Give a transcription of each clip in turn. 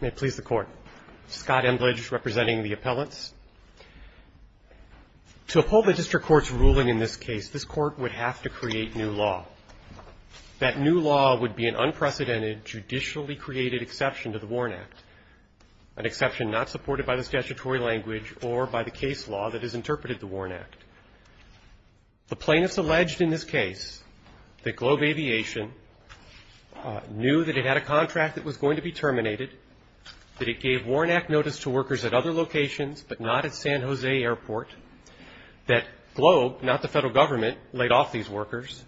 May it please the Court, Scott Embledge representing the appellants. To uphold the District Court's ruling in this case, this Court would have to create new law. That new law would be an unprecedented, judicially created exception to the Warren Act, an exception not supported by the statutory language or by the case law that has interpreted the Warren Act. The plaintiffs alleged in this case that Globe Aviation knew that it had a contract that was going to be terminated, that it gave Warren Act notice to workers at other locations but not at San Jose Airport, that Globe, not the federal government, laid off these workers,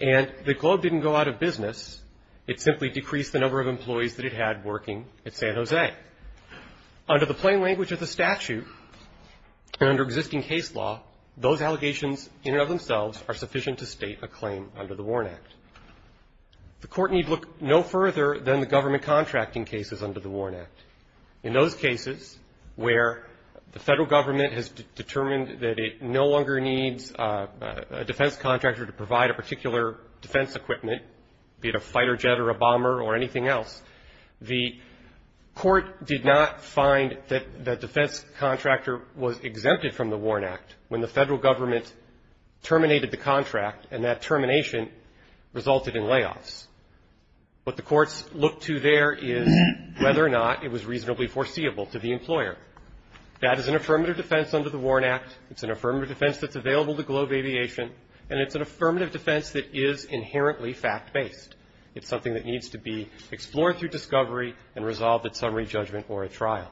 and that Globe didn't go out of business. It simply decreased the number of employees that it had working at San Jose. Under the plain language of the statute and under existing case law, those allegations in and of themselves are sufficient to state a claim under the Warren Act. The Court need look no further than the government contracting cases under the Warren Act. In those cases where the federal government has determined that it no longer needs a defense contractor to provide a particular defense equipment, be it a fighter jet or a bomber or anything else, the Court did not find that the defense contractor was exempted from the Warren Act when the federal government terminated the contract and that termination resulted in layoffs. What the courts looked to there is whether or not it was reasonably foreseeable to the employer. That is an affirmative defense under the Warren Act. It's an affirmative defense that's available to Globe Aviation, and it's an affirmative defense that is inherently fact-based. It's something that needs to be explored through discovery and resolved at summary judgment or at trial.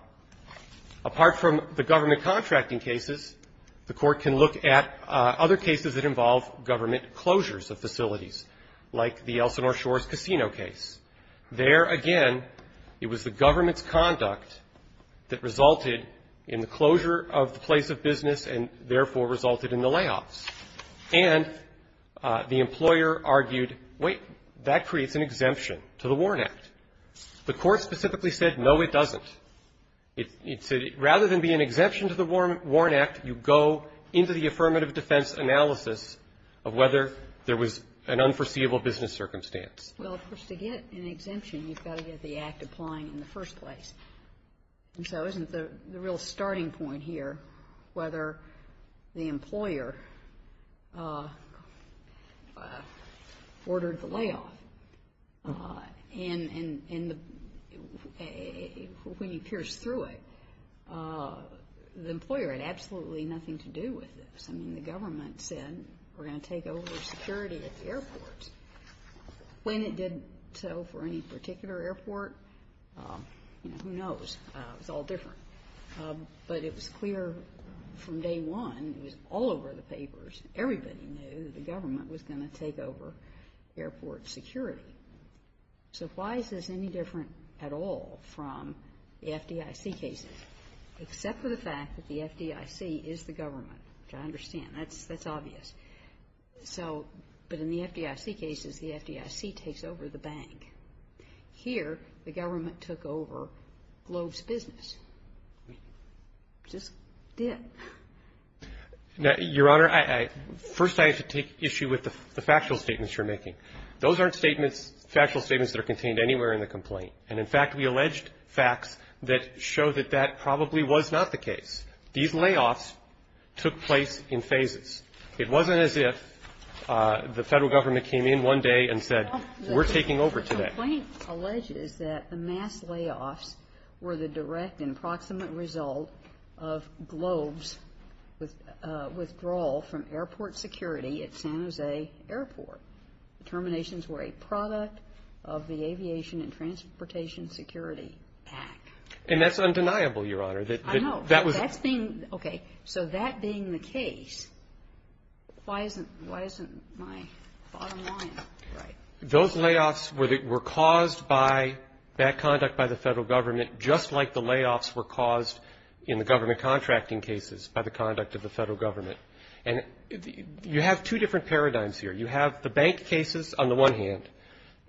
Apart from the government contracting cases, the Court can look at other cases that involve government closures of facilities, like the Elsinore Shores Casino case. There, again, it was the government's conduct that resulted in the closure of the place of business and, therefore, resulted in the layoffs. And the employer argued, wait, that creates an exemption to the Warren Act. The Court specifically said, no, it doesn't. It said rather than be an exemption to the Warren Act, you go into the affirmative defense analysis of whether there was an unforeseeable business circumstance. Well, of course, to get an exemption, you've got to get the act applying in the first place. And so isn't the real starting point here whether the employer ordered the layoff? And when you pierce through it, the employer had absolutely nothing to do with this. I mean, the government said, we're going to take over security at the airports. When it did so for any particular airport, you know, who knows? It was all different. But it was clear from day one, it was all over the papers, everybody knew that the government was going to take over airport security. So why is this any different at all from the FDIC cases? Except for the fact that the FDIC is the government, which I understand. That's obvious. So, but in the FDIC cases, the FDIC takes over the bank. Here, the government took over Glove's business. Just did. Now, Your Honor, first I have to take issue with the factual statements you're making. Those aren't statements, factual statements that are contained anywhere in the complaint. And, in fact, we alleged facts that show that that probably was not the case. These layoffs took place in phases. It wasn't as if the Federal Government came in one day and said, we're taking over today. The complaint alleges that the mass layoffs were the direct and proximate result of Glove's withdrawal from airport security at San Jose Airport. The terminations were a product of the Aviation and Transportation Security Act. And that's undeniable, Your Honor. I know. Okay. So that being the case, why isn't my bottom line right? Those layoffs were caused by bad conduct by the Federal Government, just like the layoffs were caused in the government contracting cases by the conduct of the Federal Government. And you have two different paradigms here. You have the bank cases on the one hand,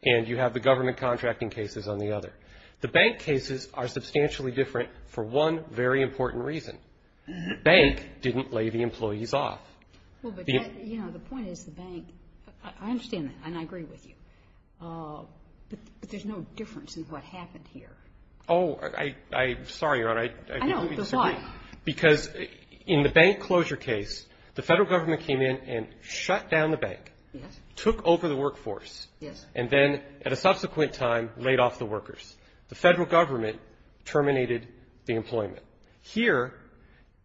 and you have the government contracting cases on the other. The bank cases are substantially different for one very important reason. The bank didn't lay the employees off. Well, but, you know, the point is the bank, I understand that, and I agree with you, but there's no difference in what happened here. Oh, I'm sorry, Your Honor. I know, but why? Because in the bank closure case, the Federal Government came in and shut down the bank, took over the workforce, and then, at a subsequent time, laid off the employees. The Federal Government terminated the employment. Here,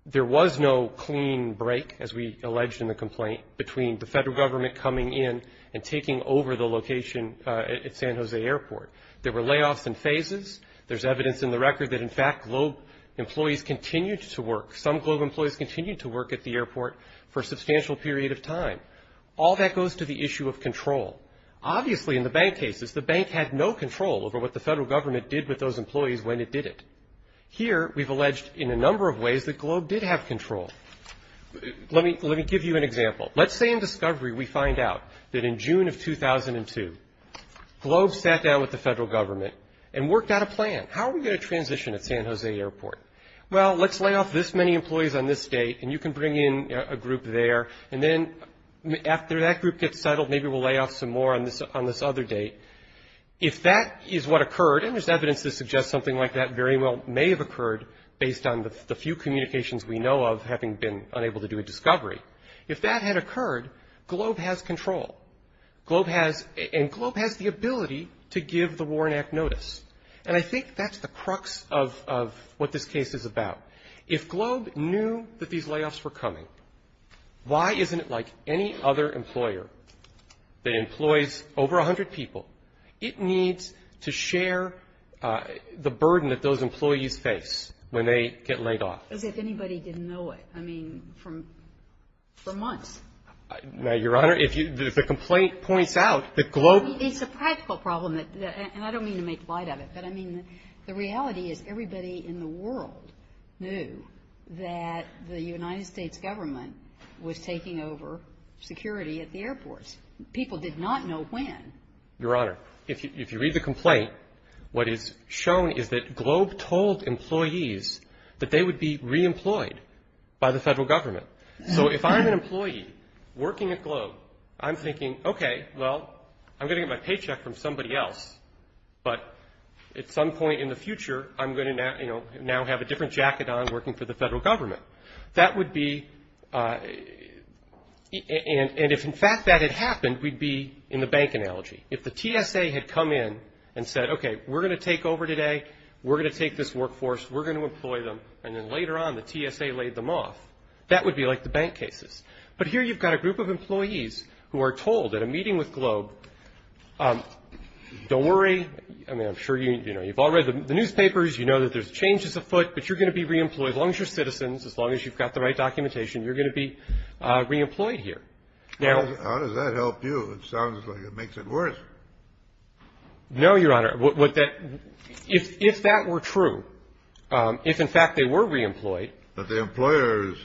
there was no clean break, as we alleged in the complaint, between the Federal Government coming in and taking over the location at San Jose Airport. There were layoffs and phases. There's evidence in the record that, in fact, Globe employees continued to work. Some Globe employees continued to work at the airport for a substantial period of time. All that goes to the issue of control. Obviously, in the bank cases, the bank had no control over what the Federal Government did with those employees when it did it. Here, we've alleged, in a number of ways, that Globe did have control. Let me give you an example. Let's say, in discovery, we find out that, in June of 2002, Globe sat down with the Federal Government and worked out a plan. How are we going to transition at San Jose Airport? Well, let's lay off this many employees on this date, and you can bring in a group there, and then, after that group gets settled, maybe we'll lay off some more on this other date. If that is what occurred, and there's evidence to suggest something like that very well may have occurred, based on the few communications we know of, having been unable to do a discovery. If that had occurred, Globe has control. Globe has – and Globe has the ability to give the Warren Act notice. And I think that's the crux of what this case is about. If Globe knew that these layoffs were coming, why isn't it like any other employer that employs over a hundred people? It needs to share the burden that those employees face when they get laid off. As if anybody didn't know it. I mean, from – for months. Now, Your Honor, if you – if the complaint points out that Globe – It's a practical problem, and I don't mean to make light of it, but I mean, the world knew that the United States government was taking over security at the airports. People did not know when. Your Honor, if you read the complaint, what is shown is that Globe told employees that they would be reemployed by the Federal Government. So if I'm an employee working at Globe, I'm thinking, okay, well, I'm going to get my paycheck from somebody else, but at some point in the future, I'm going to now, you know, now have a different jacket on working for the Federal Government. That would be – and if, in fact, that had happened, we'd be in the bank analogy. If the TSA had come in and said, okay, we're going to take over today, we're going to take this workforce, we're going to employ them, and then later on, the TSA laid them off, that would be like the bank cases. But here you've got a group of employees who are told at a meeting with Globe, don't worry – I mean, I'm sure you – you know, you've all read the newspapers. You know that there's changes afoot, but you're going to be reemployed. As long as you're citizens, as long as you've got the right documentation, you're going to be reemployed here. Now – How does that help you? It sounds like it makes it worse. No, Your Honor. What that – if that were true, if, in fact, they were reemployed – But the employer is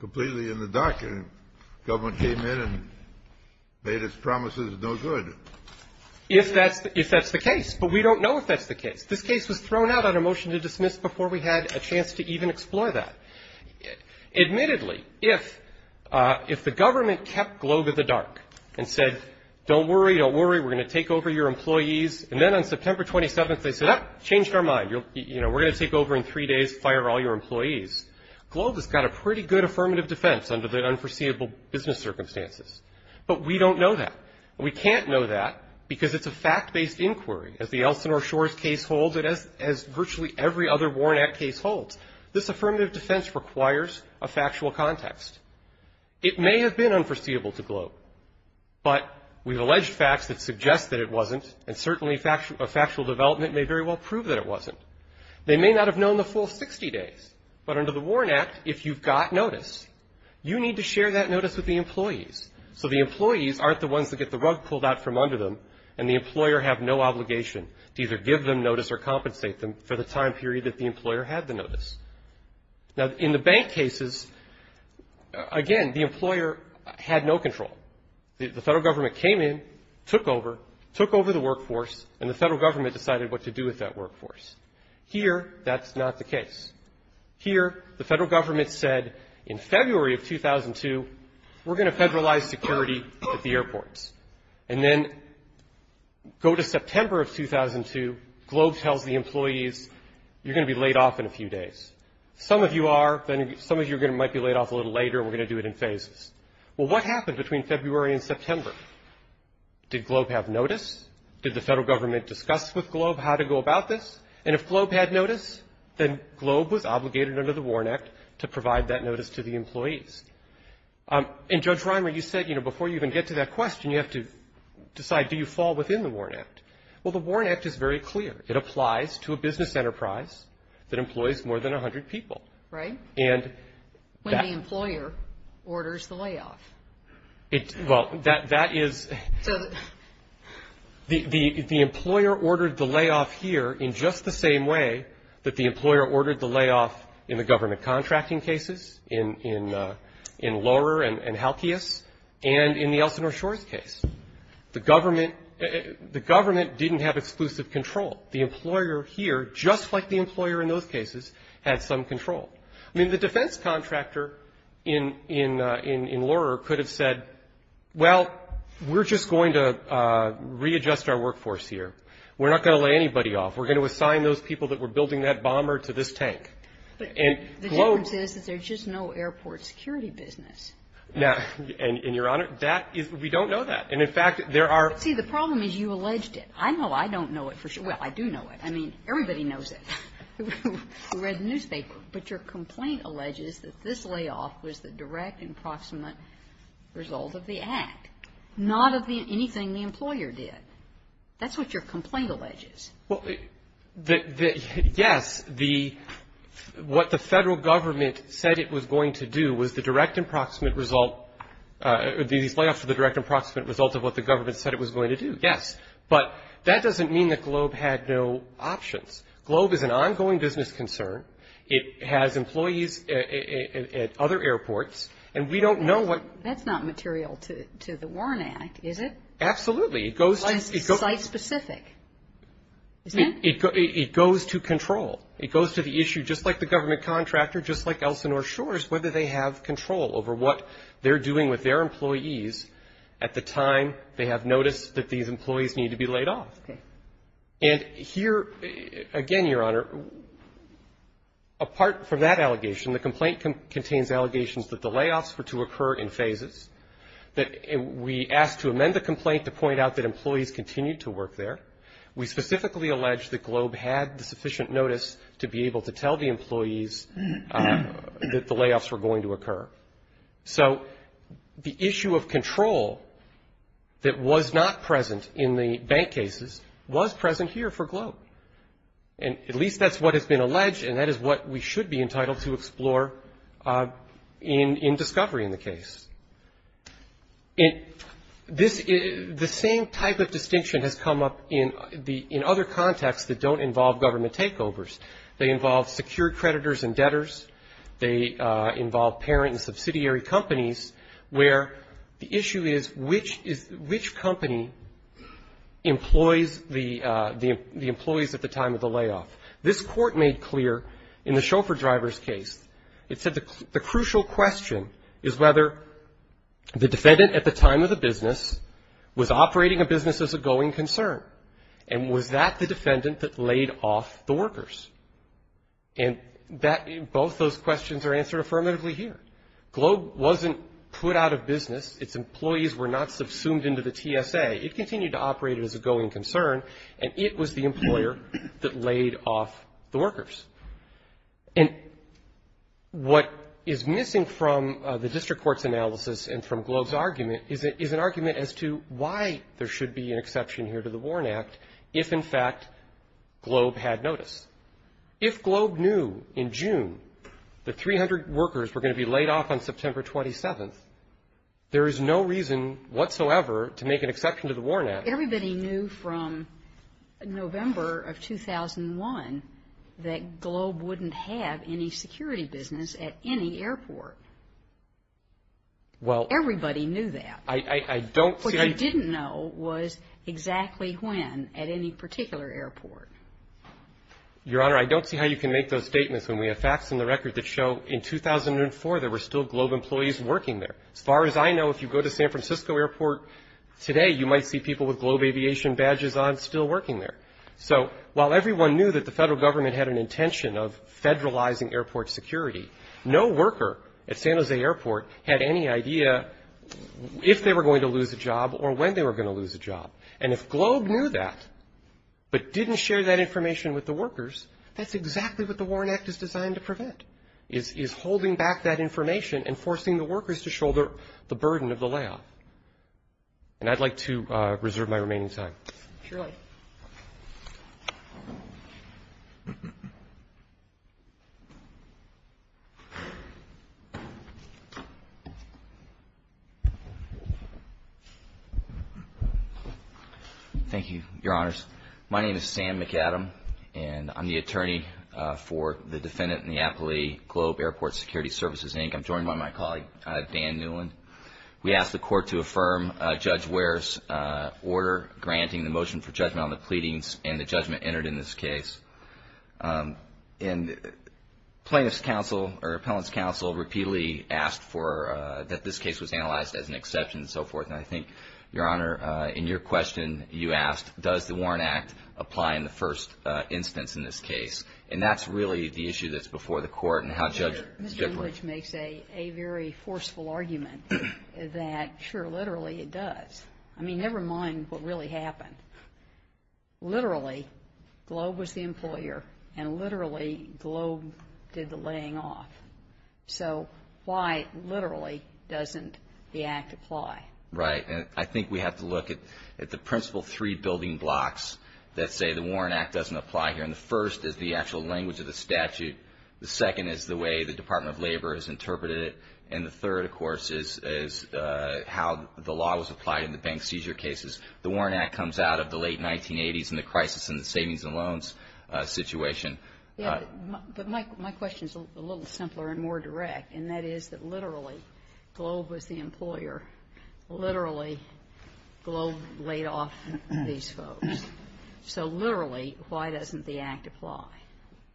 completely in the dark, and the Government came in and made its promises no good. If that's – if that's the case. But we don't know if that's the case. This case was thrown out on a motion to dismiss before we had a chance to even explore that. Admittedly, if the Government kept Globe in the dark and said, don't worry, don't worry, we're going to take over your employees, and then on September 27th, they said, oh, changed our mind, you know, we're going to take over in three days, fire all your employees, Globe has got a pretty good affirmative defense under the unforeseeable business circumstances. But we don't know that. We can't know that because it's a fact-based inquiry, as the Elsinore Shores case holds it, as virtually every other Warren Act case holds. This affirmative defense requires a factual context. It may have been unforeseeable to Globe, but we've alleged facts that suggest that it wasn't, and certainly a factual development may very well prove that it wasn't. They may not have known the full 60 days. But under the Warren Act, if you've got notice, you need to share that notice with the employees. So the employees aren't the ones that get the rug pulled out from under them, and the employer have no obligation to either give them notice or compensate them for the time period that the employer had the notice. Now, in the bank cases, again, the employer had no control. The Federal Government came in, took over, took over the workforce, and the Federal Government decided what to do with that workforce. Here, that's not the case. Here, the Federal Government said, in February of 2002, we're going to federalize security at the airports. And then, go to September of 2002, Globe tells the employees, you're going to be laid off in a few days. Some of you are, some of you might be laid off a little later, and we're going to do it in phases. Well, what happened between February and September? Did Globe have notice? Did the Federal Government discuss with Globe how to go about this? And if Globe had notice, then Globe was obligated under the WARN Act to provide that notice to the employees. And, Judge Reimer, you said, you know, before you even get to that question, you have to decide, do you fall within the WARN Act? Well, the WARN Act is very clear. It applies to a business enterprise that employs more than 100 people. Right. And that When the employer orders the layoff. It, well, that is, the employer ordered the layoff here in just the same way that the employer ordered the layoff in the government contracting cases, in Lohrer and Halkius, and in the Elsinore Shores case. The government, the government didn't have exclusive control. The employer here, just like the employer in those cases, had some control. I mean, the defense contractor in Lohrer could have said, well, we're just going to readjust our workforce here. We're not going to lay anybody off. We're going to assign those people that were building that bomber to this tank. But the difference is that there's just no airport security business. Now, and, Your Honor, that is, we don't know that. And, in fact, there are. See, the problem is you alleged it. I know I don't know it for sure. Well, I do know it. I mean, everybody knows it. We read the newspaper. But your complaint alleges that this layoff was the direct and proximate result of the Act, not of anything the employer did. That's what your complaint alleges. Well, yes, the what the Federal government said it was going to do was the direct and proximate result, these layoffs were the direct and proximate result of what the government said it was going to do, yes. But that doesn't mean that Globe had no options. Globe is an ongoing business concern. It has employees at other airports. And we don't know what. That's not material to the Warren Act, is it? Absolutely. It goes to. Site specific. It goes to control. It goes to the issue, just like the government contractor, just like Elsinore Shores, whether they have control over what they're doing with their employees at the time they have noticed that these employees need to be laid off. And here, again, Your Honor, apart from that allegation, the complaint contains allegations that the layoffs were to occur in phases, that we asked to amend the complaint to point out that employees continued to work there. We specifically alleged that Globe had the sufficient notice to be able to tell the So the issue of control that was not present in the bank cases was present here for Globe. And at least that's what has been alleged. And that is what we should be entitled to explore in discovery in the case. And this is the same type of distinction has come up in the in other contexts that don't involve government takeovers. They involve secured creditors and debtors. They involve parent and subsidiary companies where the issue is which company employs the employees at the time of the layoff. This Court made clear in the chauffeur driver's case, it said the crucial question is whether the defendant at the time of the business was operating a business as a going concern. And was that the defendant that laid off the workers? And both those questions are answered affirmatively here. Globe wasn't put out of business. Its employees were not subsumed into the TSA. It continued to operate as a going concern. And it was the employer that laid off the workers. And what is missing from the district court's analysis and from Globe's argument is an argument as to why there should be an exception here to the Warren Act if, in fact, Globe had notice. If Globe knew in June the 300 workers were going to be laid off on September 27th, there is no reason whatsoever to make an exception to the Warren Act. Everybody knew from November of 2001 that Globe wouldn't have any security business at any airport. Well, everybody knew that. I don't see. What you didn't know was exactly when at any particular airport. Your Honor, I don't see how you can make those statements when we have facts in the record that show in 2004 there were still Globe employees working there. As far as I know, if you go to San Francisco Airport today, you might see people with Globe aviation badges on still working there. So while everyone knew that the federal government had an intention of federalizing airport security, no worker at San Jose Airport had any idea if they were going to lose a job or when they were going to lose a job. And if Globe knew that but didn't share that information with the workers, that's exactly what the Warren Act is designed to prevent, is holding back that information and forcing the workers to shoulder the burden of the layoff. And I'd like to reserve my remaining time. Surely. Thank you, Your Honors. My name is Sam McAdam, and I'm the attorney for the defendant in the Appalachian Globe Airport Security Services, Inc. I'm joined by my colleague, Dan Newland. We ask the court to affirm Judge Ware's order granting the motion for judgment on the pleadings and the judgment entered in this case. And plaintiff's counsel, or appellant's counsel, repeatedly asked that this case was analyzed as an exception and so forth. And I think, Your Honor, in your question, you asked, does the Warren Act apply in the first instance in this case? And that's really the issue that's before the court and how Judge Bickler — that, sure, literally it does. I mean, never mind what really happened. Literally, Globe was the employer. And literally, Globe did the laying off. So why, literally, doesn't the Act apply? Right. And I think we have to look at the principal three building blocks that say the Warren Act doesn't apply here. And the first is the actual language of the statute. The second is the way the Department of Labor has interpreted it. And the third, of course, is how the law was applied in the bank seizure cases. The Warren Act comes out of the late 1980s and the crisis in the savings and loans situation. But my question is a little simpler and more direct. And that is that, literally, Globe was the employer. Literally, Globe laid off these folks. So, literally, why doesn't the Act apply?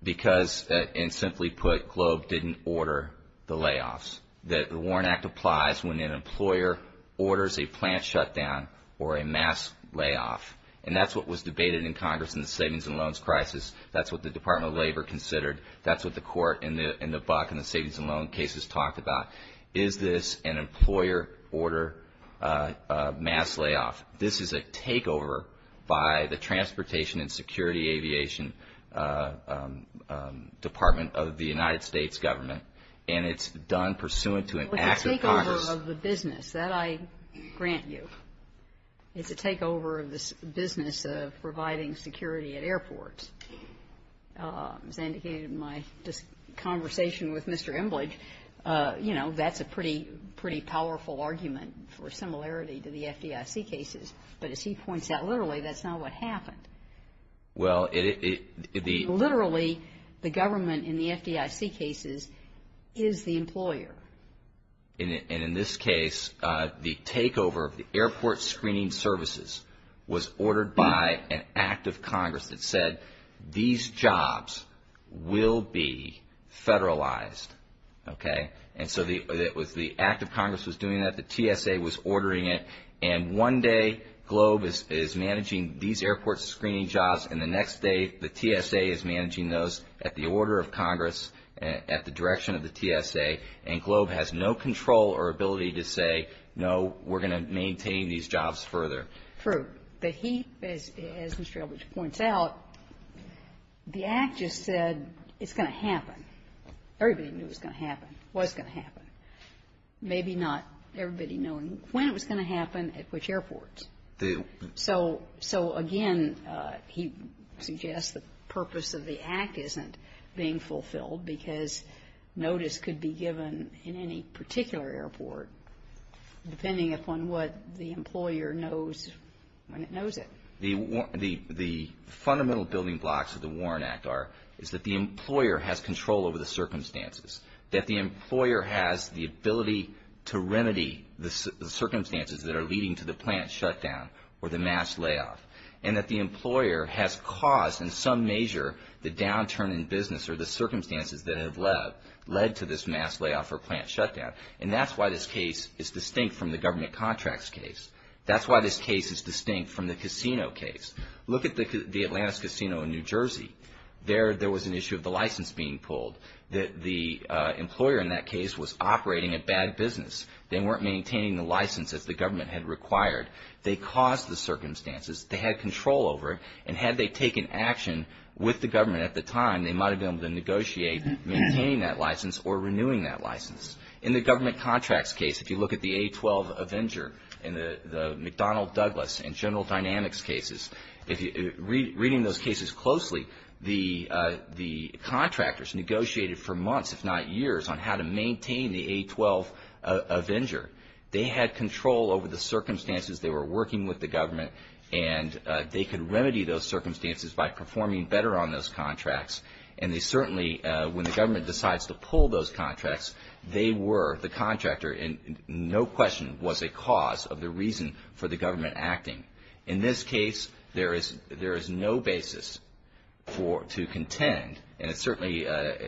Because, and simply put, Globe didn't order the layoffs. The Warren Act applies when an employer orders a plant shutdown or a mass layoff. And that's what was debated in Congress in the savings and loans crisis. That's what the Department of Labor considered. That's what the court in the Buck and the savings and loan cases talked about. Is this an employer order mass layoff? This is a takeover by the Transportation and Security Aviation Department of the United States government. And it's done pursuant to an act of Congress. Well, it's a takeover of the business. That I grant you. It's a takeover of the business of providing security at airports. As I indicated in my conversation with Mr. Emblidge, you know, that's a pretty powerful argument for similarity to the FDIC cases. But as he points out, literally, that's not what happened. Well, it, it, the literally the government in the FDIC cases is the employer. And in this case, the takeover of the airport screening services was ordered by an act of Congress that said these jobs will be federalized. Okay. And so the, it was the act of Congress was doing that. The TSA was ordering it. And one day Globe is managing these airport screening jobs. And the next day, the TSA is managing those at the order of Congress, at the direction of the TSA. And Globe has no control or ability to say, no, we're going to maintain these jobs further. True. But he, as Mr. Emblidge points out, the act just said it's going to happen. Everybody knew it was going to happen. Was going to happen. Maybe not everybody knowing when it was going to happen at which airports. Do. So, so again, he suggests the purpose of the act isn't being fulfilled because notice could be given in any particular airport, depending upon what the employer knows when it knows it. The, the, the fundamental building blocks of the Warren Act are, is that the employer has control over the circumstances. That the employer has the ability to remedy the circumstances that are leading to the plant shutdown or the mass layoff. And that the employer has caused, in some measure, the downturn in business or the circumstances that have led, led to this mass layoff or plant shutdown. And that's why this case is distinct from the government contracts case. That's why this case is distinct from the casino case. Look at the Atlantis Casino in New Jersey. There, there was an issue of the license being pulled. That the employer in that case was operating a bad business. They weren't maintaining the license as the government had required. They caused the circumstances. They had control over it. And had they taken action with the government at the time, they might have been able to negotiate maintaining that license or renewing that license. In the government contracts case, if you look at the A-12 Avenger and the, the McDonnell Douglas and General Dynamics cases. If you read, reading those cases closely, the, the contractors negotiated for months, if not years, on how to maintain the A-12 Avenger. They had control over the circumstances. They were working with the government and they could remedy those circumstances by performing better on those contracts. And they certainly, when the government decides to pull those contracts, they were the contractor and no question was a cause of the reason for the government acting. In this case, there is, there is no basis for, to contend. And it's certainly,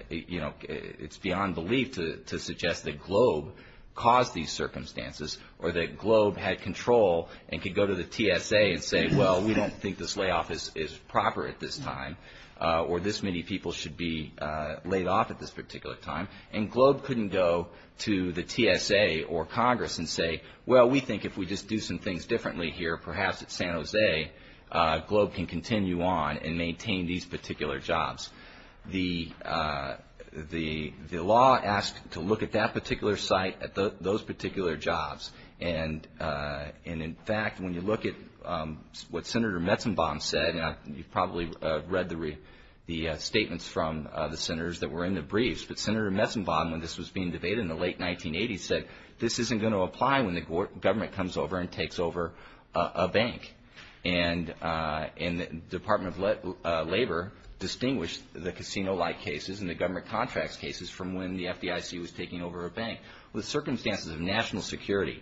you know, it's beyond belief to, to suggest that Globe caused these circumstances or that Globe had control and could go to the TSA and say, well, we don't think this layoff is, is proper at this time or this many people should be laid off at this particular time. And Globe couldn't go to the TSA or Congress and say, well, we think if we just do some things differently here, perhaps at San Jose, Globe can continue on and maintain these particular jobs. The, the, the law asked to look at that particular site at those particular jobs. And, and in fact, when you look at what Senator Metzenbaum said, and you've probably read the, the statements from the senators that were in the briefs, but Senator Metzenbaum, when this was being debated in the late 1980s said, this isn't going to apply when the government comes over and takes over a bank. And, and the Department of Labor distinguished the casino-like cases and the government contracts cases from when the FDIC was taking over a bank. With circumstances of national security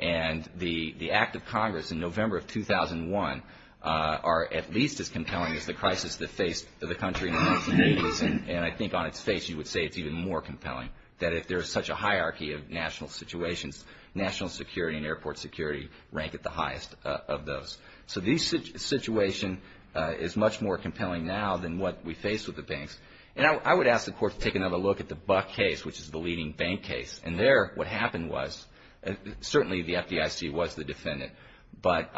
and the, the act of Congress in November of 2001 are at least as compelling as the crisis that faced the country in the 1980s. And I think on its face, you would say it's even more compelling that if there is such a hierarchy of national situations, national security and airport security rank at the top of those. So this situation is much more compelling now than what we faced with the banks. And I would ask the court to take another look at the Buck case, which is the leading bank case. And there, what happened was, certainly the FDIC was the defendant, but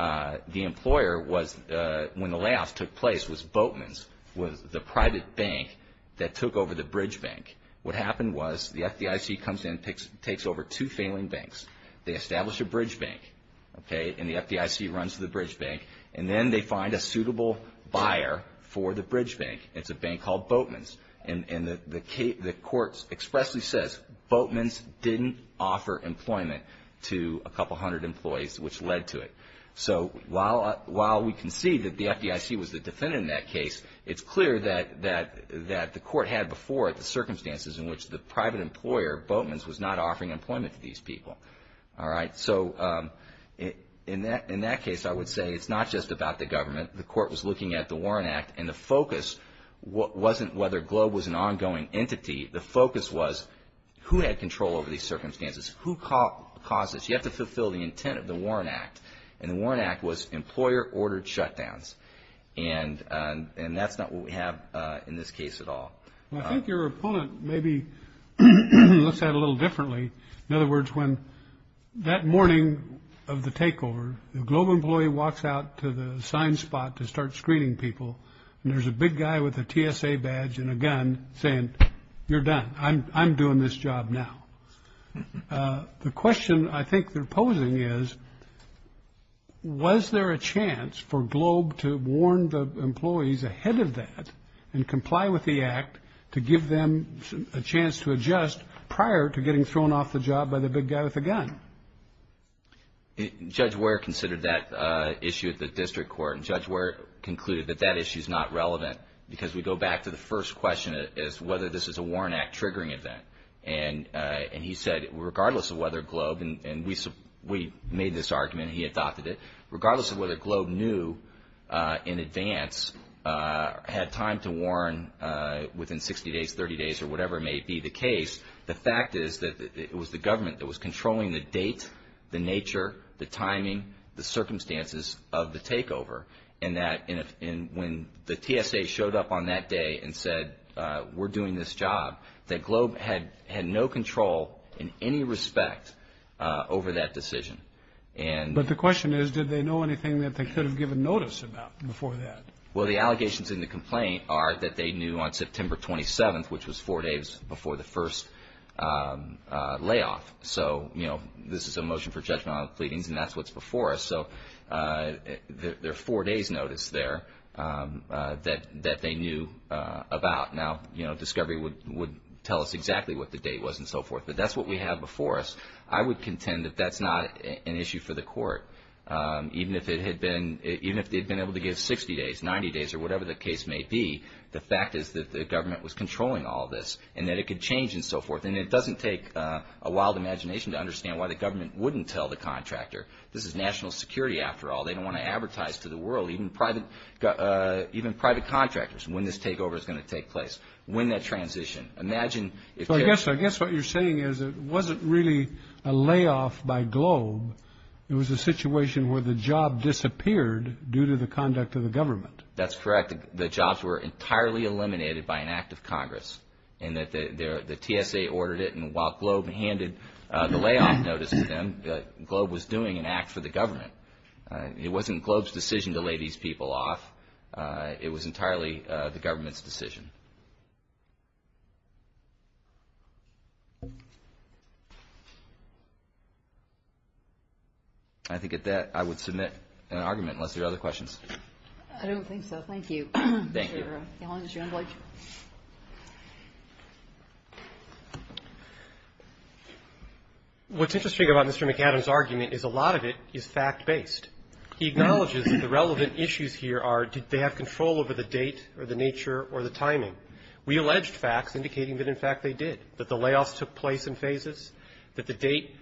the employer was, when the layoffs took place, was Boatman's, was the private bank that took over the bridge bank. What happened was the FDIC comes in, picks, takes over two failing banks. They establish a bridge bank, okay, and the FDIC runs the bridge bank. And then they find a suitable buyer for the bridge bank. It's a bank called Boatman's. And, and the case, the court expressly says Boatman's didn't offer employment to a couple hundred employees, which led to it. So while, while we can see that the FDIC was the defendant in that case, it's clear that, that, that the court had before the circumstances in which the private employer Boatman's was not offering employment to these people. All right. So in that, in that case, I would say it's not just about the government. The court was looking at the Warren Act. And the focus wasn't whether Globe was an ongoing entity. The focus was who had control over these circumstances? Who caused this? You have to fulfill the intent of the Warren Act. And the Warren Act was employer ordered shutdowns. And, and that's not what we have in this case at all. Well, I think your opponent maybe looks at it a little differently. In other words, when that morning of the takeover, the Globe employee walks out to the assigned spot to start screening people. And there's a big guy with a TSA badge and a gun saying, you're done. I'm, I'm doing this job now. The question I think they're posing is, was there a chance for Globe to warn the Act to give them a chance to adjust prior to getting thrown off the job by the big guy with a gun? Judge Ware considered that issue at the district court. And Judge Ware concluded that that issue is not relevant because we go back to the first question is whether this is a Warren Act triggering event. And, and he said, regardless of whether Globe, and we, we made this argument, he adopted it, regardless of whether Globe knew in advance, had time to warn within 60 days, 30 days, or whatever may be the case. The fact is that it was the government that was controlling the date, the nature, the timing, the circumstances of the takeover. And that, and when the TSA showed up on that day and said, we're doing this job, that Globe had, had no control in any respect over that decision. And, but the question is, did they know anything that they could have given notice about before that? Well, the allegations in the complaint are that they knew on September 27th, which was four days before the first layoff. So, you know, this is a motion for judgment on the pleadings and that's what's before us. So there are four days notice there that, that they knew about. Now, you know, discovery would, would tell us exactly what the date was and so forth, but that's what we have before us. I would contend that that's not an issue for the court. Even if it had been, even if they'd been able to give 60 days, 90 days, or whatever the case may be, the fact is that the government was controlling all this and that it could change and so forth. And it doesn't take a wild imagination to understand why the government wouldn't tell the contractor. This is national security after all. They don't want to advertise to the world, even private, even private contractors, when this takeover is going to take place, when that transition. Imagine, I guess, I guess what you're saying is it wasn't really a layoff by Globe. It was a situation where the job disappeared due to the conduct of the government. That's correct. The jobs were entirely eliminated by an act of Congress and that the TSA ordered it and while Globe handed the layoff notice to them, Globe was doing an act for the government. It wasn't Globe's decision to lay these people off. It was entirely the government's decision. I think at that, I would submit an argument unless there are other questions. I don't think so. Thank you. Thank you. What's interesting about Mr. McAdams' argument is a lot of it is fact-based. He acknowledges that the relevant issues here are did they have control over the date or the nature or the timing. We alleged facts indicating that, in fact, they did, that the layoffs took place in phases, that the date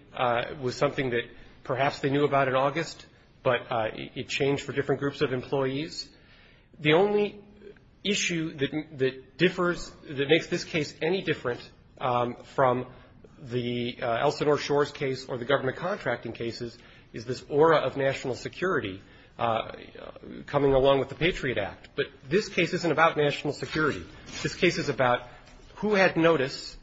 was something that perhaps they knew about in August, but it changed for different groups of employees. The only issue that differs, that makes this case any different from the Elsinore Shores case or the government contracting cases is this aura of national security coming along with the Patriot Act. But this case isn't about national security. This case is about who had notice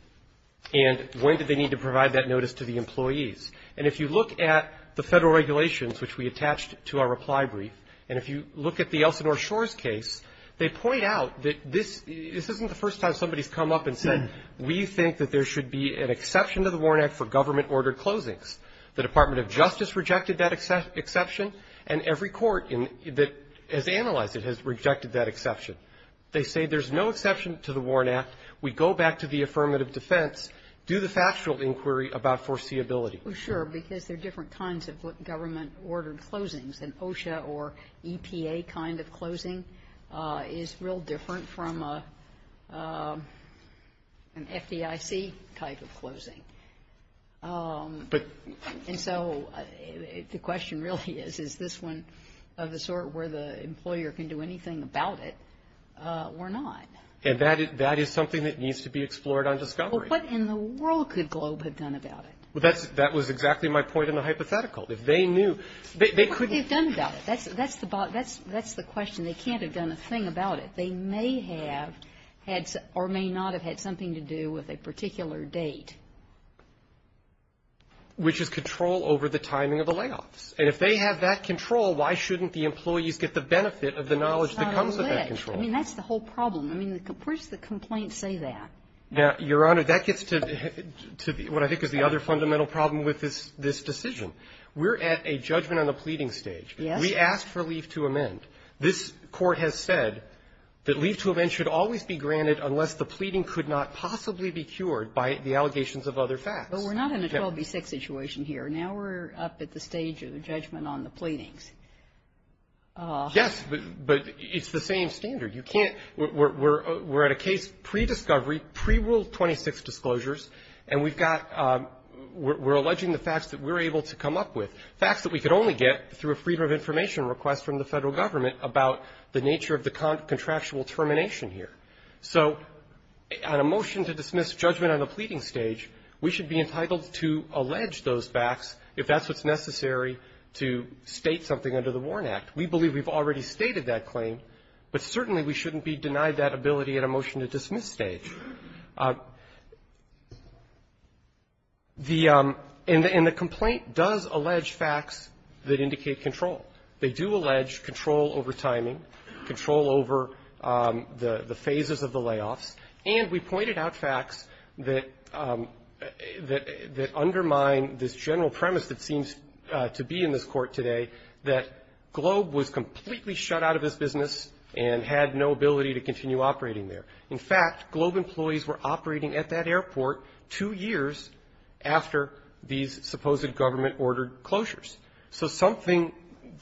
and when did they need to provide that notice to the employees. And if you look at the federal regulations, which we attached to our reply brief, and if you look at the Elsinore Shores case, they point out that this isn't the first time somebody's come up and said, we think that there should be an exception to the Warren Act for government-ordered closings. The Department of Justice rejected that exception, and every court that has analyzed it has rejected that exception. They say there's no exception to the Warren Act. We go back to the affirmative defense, do the factual inquiry about foreseeability. Well, sure, because there are different kinds of government-ordered closings. An OSHA or EPA kind of closing is real different from an FDIC type of closing. But — And so the question really is, is this one of the sort where the employer can do anything about it or not? And that is something that needs to be explored on discovery. Well, what in the world could Globe have done about it? Well, that was exactly my point in the hypothetical. If they knew — What could they have done about it? That's the question. They can't have done a thing about it. They may have had or may not have had something to do with a particular date. Which is control over the timing of the layoffs. And if they have that control, why shouldn't the employees get the benefit of the knowledge that comes with that control? I mean, that's the whole problem. I mean, where does the complaint say that? Your Honor, that gets to what I think is the other fundamental problem with this decision. We're at a judgment-on-the-pleading stage. Yes. We asked for leave to amend. This Court has said that leave to amend should always be granted unless the pleading could not possibly be cured by the allegations of other facts. But we're not in a 12 v. 6 situation here. Now we're up at the stage of the judgment on the pleadings. Yes. But it's the same standard. You can't we're at a case pre-discovery, pre-rule 26 disclosures, and we've got we're alleging the facts that we're able to come up with, facts that we could only get through a freedom of information request from the Federal Government about the nature of the contractual termination here. So on a motion to dismiss judgment on the pleading stage, we should be entitled to allege those facts if that's what's necessary to state something under the Warren Act. We believe we've already stated that claim, but certainly we shouldn't be denied that ability at a motion-to-dismiss stage. The and the complaint does allege facts that indicate control. They do allege control over timing, control over the phases of the layoffs, and we believe that we should be entitled to allege those facts if that's what's necessary to state something under the Warren Act. Now, there's another thing that undermined this general premise that seems to be in this Court today, that Globe was completely shut out of this business and had no ability to continue operating there. In fact, Globe employees were operating at that airport two years after these supposed government-ordered closures. So something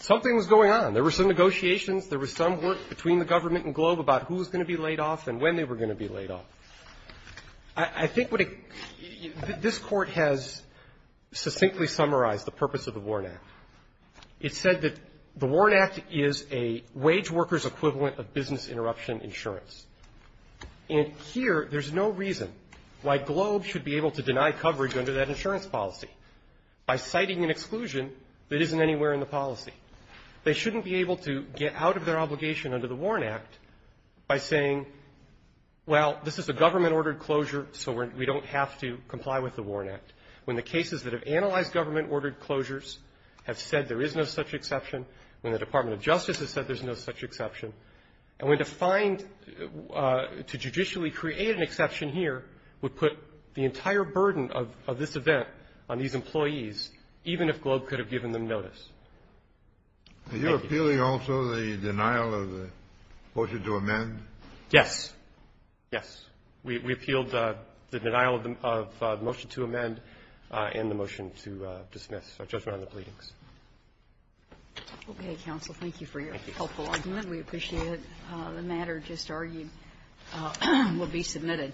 was going on. There were some negotiations. There was some work between the government and Globe about who was going to be laid off and when they were going to be laid off. I think what it this Court has succinctly summarized the purpose of the Warren Act. It said that the Warren Act is a wage worker's equivalent of business interruption insurance. And here, there's no reason why Globe should be able to deny coverage under that insurance policy. By citing an exclusion that isn't anywhere in the policy. They shouldn't be able to get out of their obligation under the Warren Act by saying, well, this is a government-ordered closure, so we don't have to comply with the Warren Act, when the cases that have analyzed government-ordered closures have said there is no such exception, when the Department of Justice has said there's no such exception. And when defined to judicially create an exception here would put the entire burden of this event on these employees, even if Globe could have given them notice. Thank you. Are you appealing also the denial of the motion to amend? Yes. Yes. We appealed the denial of the motion to amend and the motion to dismiss, our judgment on the pleadings. Okay, counsel. Thank you for your helpful argument. We appreciate it. The matter just argued will be submitted.